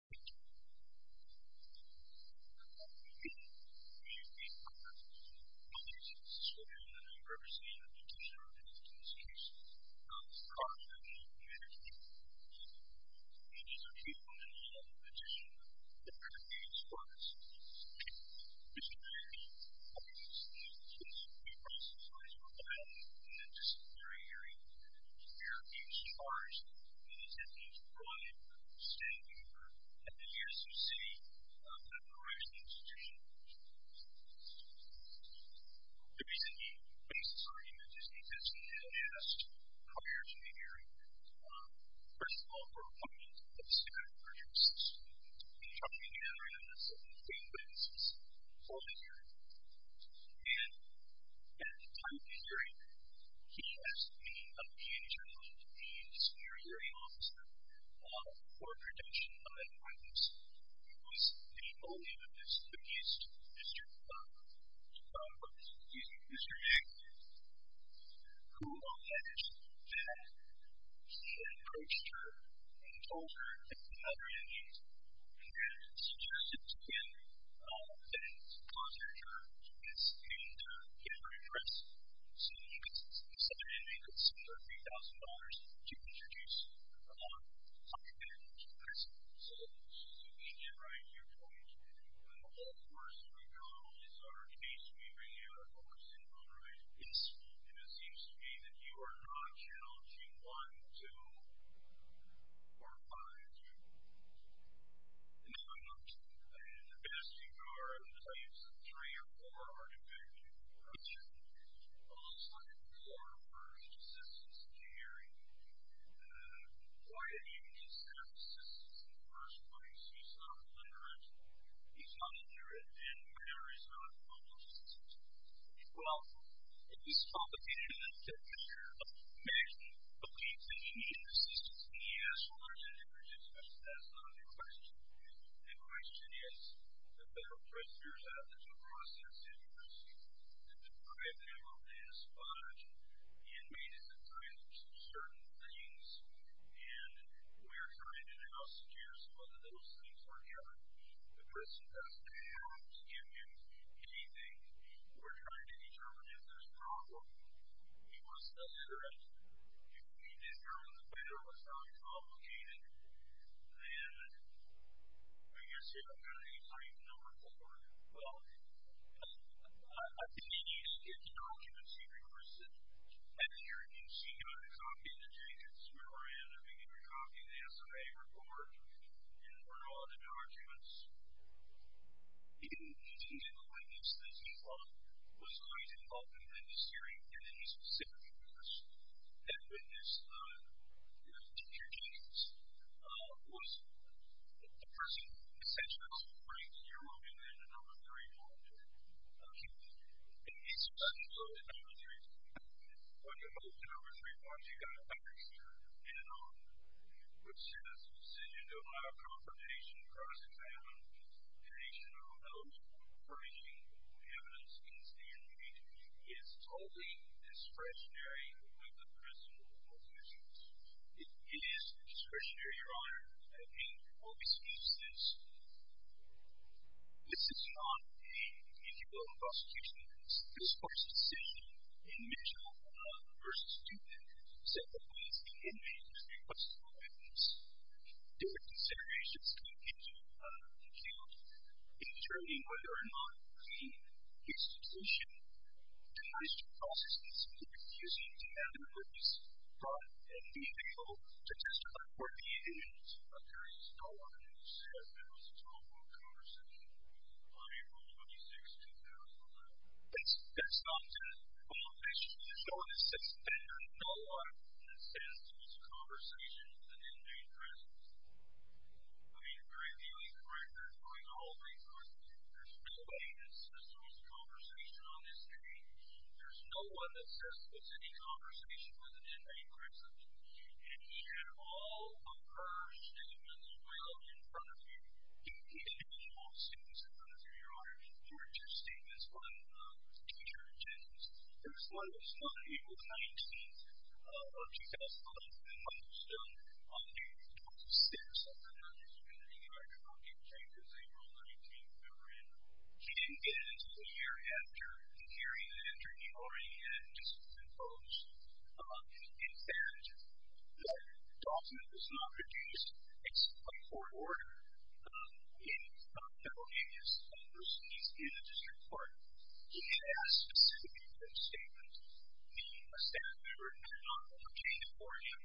Thank you. Again, we are honored to be sitting here in the diversity and inclusion of this institution. I'm proud to be a community member. It is a privilege and an honor to serve in the community as part of this institution. This is an area of expertise, and we promise to serve as your guide in the disciplinary hearing. We are being charged, and we intend to provide a standing order at the ASUC to authorize the institution. The reason he makes this argument is because he has asked prior to the hearing, first of all, for a point of standard of purchase. He told me he had a relevance of $15,000 for the hearing. And at the time of the hearing, he asked me of the attorney, the disciplinary hearing officer, for a protection of an appointment. It was a colleague of his, who used to be Mr. Young, who alleged that he had approached her and told her that the mother in need and then suggested to him that he contact her and get her addressed. So he decided he could spend her $3,000 to introduce her to us. So you can write your point of view, and of course, we don't always have our case meeting and our folks involved, right? It seems to me that you are non-charging one, two, or five, two. No, I'm not. The best you are, I would say, is three or four, three or four, depending on the situation. Well, let's talk a little bit more about his assistance in the hearing. Why did he just have assistance in the first place? He's not a deliberate, he's not a jurid, and we know he's not a public institution. Well, he's complicated in that picture. Maxine believes that he needs assistance, and he asks for it, and he rejects it. That's not the question. The question is, the Federal Judiciary has had to go through a series of years to deprive him of his funds and made him to sign certain things, and we are trying to now secure some of those things for him. The person doesn't have to give him anything. We're trying to determine if there's a problem. He was illiterate. We determined the Federal was highly complicated, and I'm going to say I'm going to cite number four. Well, I think he needs to get the documents he requested. At the hearing, he got a copy of the changes we were in. I think he got a copy of the SMA report and brought all the documents. He did not witness that he was always involved in the judiciary in any specific business. He did not witness the particular changes. He was the person, essentially, who brings you and then the number three monitor. And he's supposed to go to the number three monitor. When he goes to the number three monitor, he got a copy in an envelope, which says, Decision to allow confrontation, cross-examination, or other breaching of evidence, he is totally discretionary with the person with the most issues. He is discretionary, Your Honor. I think all we see is this. This is not an individual prosecution. This is the first decision in Mitchell v. Student, set up by his inmate. What's the evidence? Did considerations come into account in determining whether or not the institution denies the process and simply refuses to have the evidence brought and be able to testify for the evidence? There is no evidence that there was a telephone conversation on April 26, 2011. That's nonsense. All I'm asking you to show is that there is no evidence that there was a conversation with an inmate present. I mean, you're ideally correct. You're doing the whole thing correctly. There's no evidence that there was a conversation on this day. There's no one that says there was any conversation with an inmate present. And you have all of her statements of reality in front of you. Did he have any false statements in front of you, Your Honor? Or did your statements run teacher-to-teacher? There's one that's not April 19th of 2011, but it was done on April 26th. I'm not sure if you can see it. I don't know if you can see it because April 19th we were in. He didn't get it until the year after the hearing, and then during the hearing it had just been closed. In fact, the document was not produced. It's a court order. It's not a federal case. It's a receipt in a district court. He has specific false statements. A staff member obtained it for him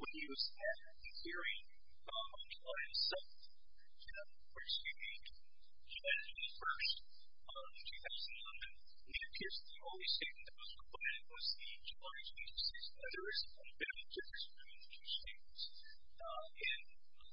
when he was at the hearing on July 7th, which he did. He had it on the 1st of 2011, and he appears to be the only statement that was recorded. It was the July 26th. There is an unabated difference between the two statements.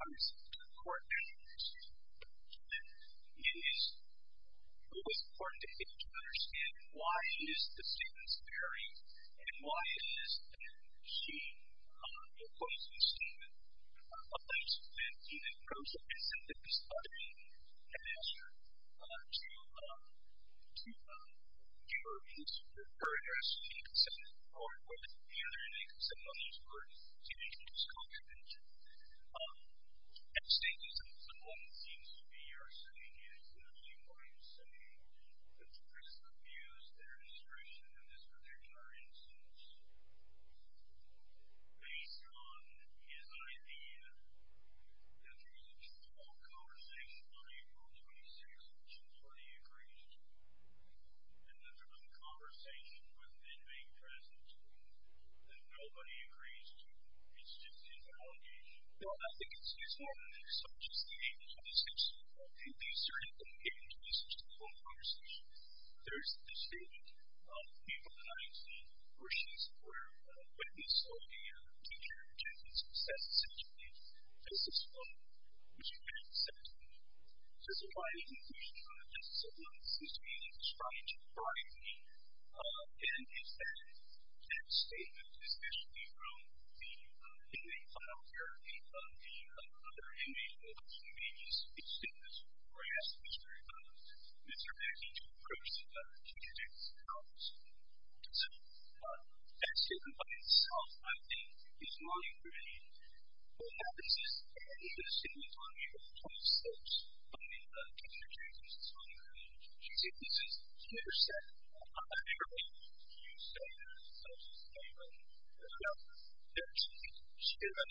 Obviously, to the court, it is always important to get you to understand why is the statement varying and why is she opposing the statement. Sometimes she's been in an incident that the student had asked her to give her address, and she could send it forward with it. Apparently, some of these words seem to be misconstrued. At the statement, some of what seems to be her saying is literally what I'm saying, that the person abused their discretion in this particular instance. Based on his idea that there is a general conversation on April 26th, which employee agrees to, and that there's a conversation within being present, that nobody agrees to, it's just invalidation. Well, I think it's useful that there's such a statement. Obviously, these are inappropriate instances to call a conversation. There's the statement, people can either see or she's aware of, or witness of a teacher attempting to assess the situation, face this phone, which she can't assess. There's a lot of information on the basis of what seems to be a strange variety, and it's that statement, especially from the inmate file where the other inmate, although he may be speaking to this employee, asks Mr. Mackey to approach the teacher to do this analysis. So, that's two components. I think it's my opinion. What happens is, if it is stated on April 26th, I mean, the teacher changes his phone number, she's in this intercept, I'm not sure why she's saying that, but there are two things. She's got a statement on April 26th, I don't know if you're aware of it or not, but it's, it's, and if he is able to call that witness and have her say something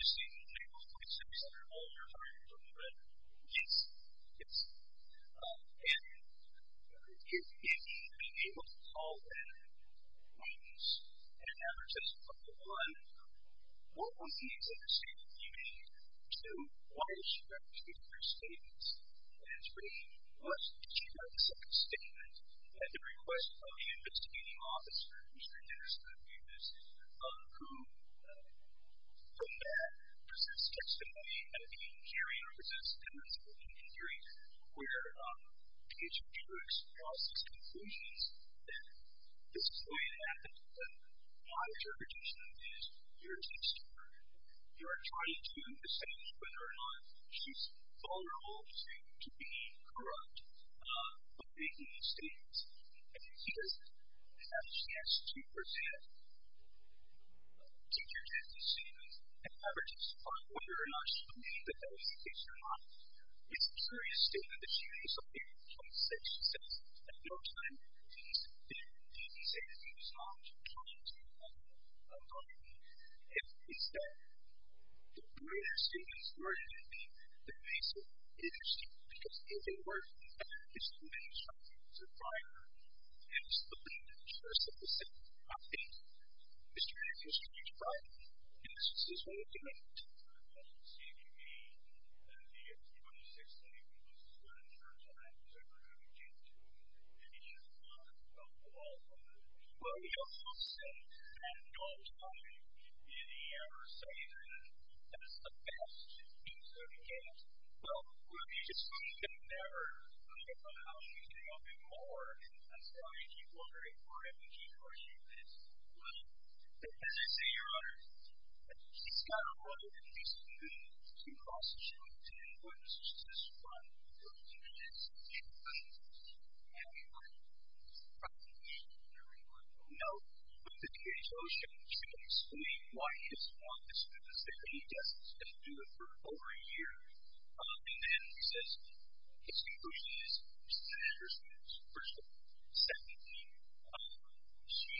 about it, what would be his understanding of the inmate? So, why does she have to give him her statements? And it's really, let's check out the second statement. At the request of the investigating officer, Mr. Anderson, the abuser, who, from that, presents testimony at a meeting hearing, or presents evidence at a meeting hearing, where, to get your jurors across these conclusions, then, this is the way it happens, that, why is your prediction of this? Here's the story. You are trying to decide whether or not she's vulnerable to being corrupt, by making these statements. And if she doesn't have a chance to present, teachers have to see and have her testify whether or not she's made the felony case or not. It's a serious statement that she made, so April 26th, at no time did these statements stop from coming to the public. It's a, the greater statements were going to be the case of interesting, because if they weren't, it's too many strikes, it's a fire, and it's the lead juror, so the second, not the 8th, Mr. Anderson, you try. Yes, this is what we can make of it. As you can see, the, the April 26th statement, this is when it turns out that it was approved into a more judicious law. Well, well, he also said at no time did he ever say that that's the best use of the case. Well, we just couldn't get better about how she came up in court, and that's why people are very worried when people are shooting this. Well, as I say, your Honor, she's got a right, at least to me, to cross the street and put an assist run for the defense and she put an assist run for the prosecution during her own oath with the DA's ocean, which we can explain why he doesn't want this because if he does, he's going to do it for over a year, and then resist his conclusion as to Senator Smith's personal second view. She,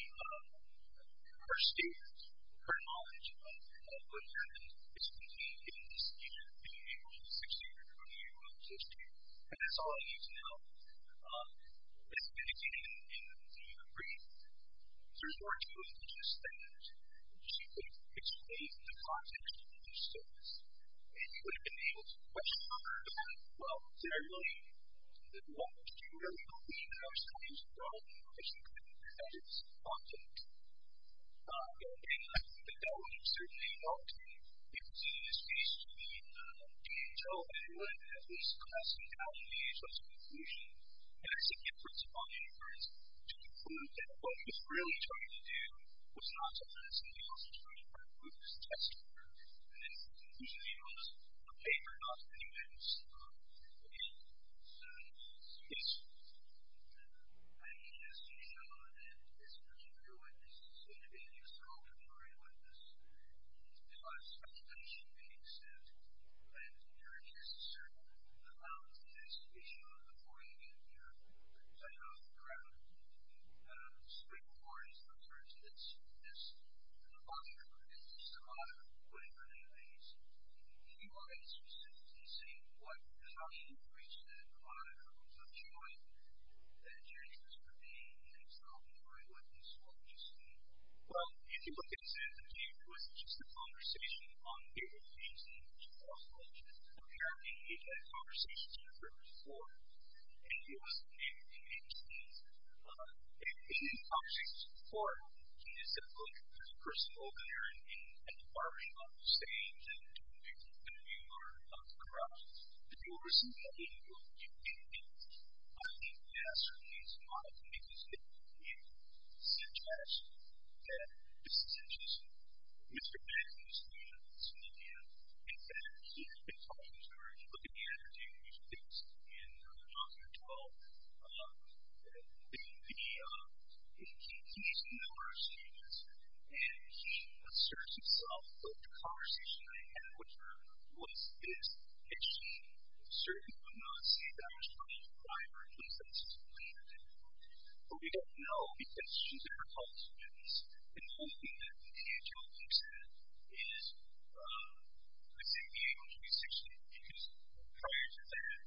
her statements, her knowledge, her experience, it's been key in this case being able to succeed in her own history, and that's all I need to know. But as I indicated in the brief, there's more to it than just that she could explain the context of her service, and she would have been able to question her, well, did I really, well, did you really believe that I was going to use the gun if she couldn't as it's often I don't think that would have certainly helped because in this case, she didn't tell anyone that was questioning how she was going to use her own conclusion, and that's the difference upon inference to conclude that what she was really trying to do was not to pass a nail she was trying to try to prove as a testifier, and then to use a nail as a paper not as evidence against her. And as you know, this particular witness is going to be an external contrarian witness because as she makes it, and there is a certain amount of this issue of avoiding and you're setting up a crowd of stakeholders in terms of this this this monster who is this monster who would have really raised a few eyes to see what, how she would reach that monocle of joy that Jesus would be and suggest that this is interesting. Mr. Beck is from Somalia and that he had been talking to her and looking at her doing these things in chapter 12 and the he he makes a number of statements and he asserts himself that the conversation they had which was this and she certainly would not say that was her primary consensus but we don't know because she's one of her college students and one thing that the NHL thinks that is I think the NHL should be sectioned because prior to that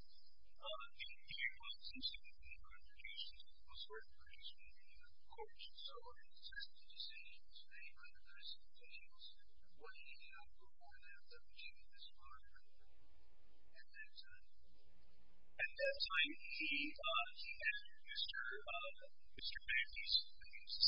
the NHL was interested in reproductions of those reproductions in the courts and so in his decision today under those conditions what he had to go on at that time and at that time he he had Mr. Mr. Beck he's I think he's the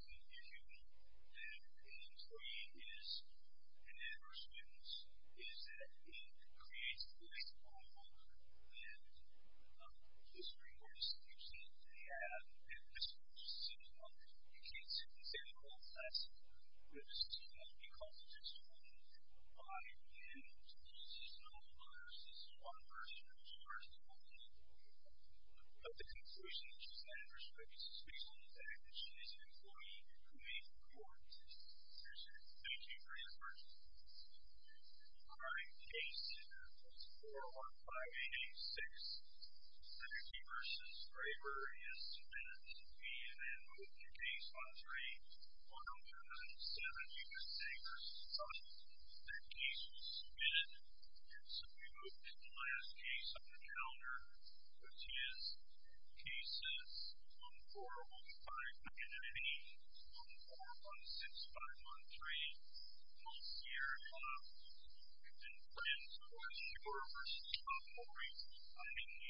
second page of the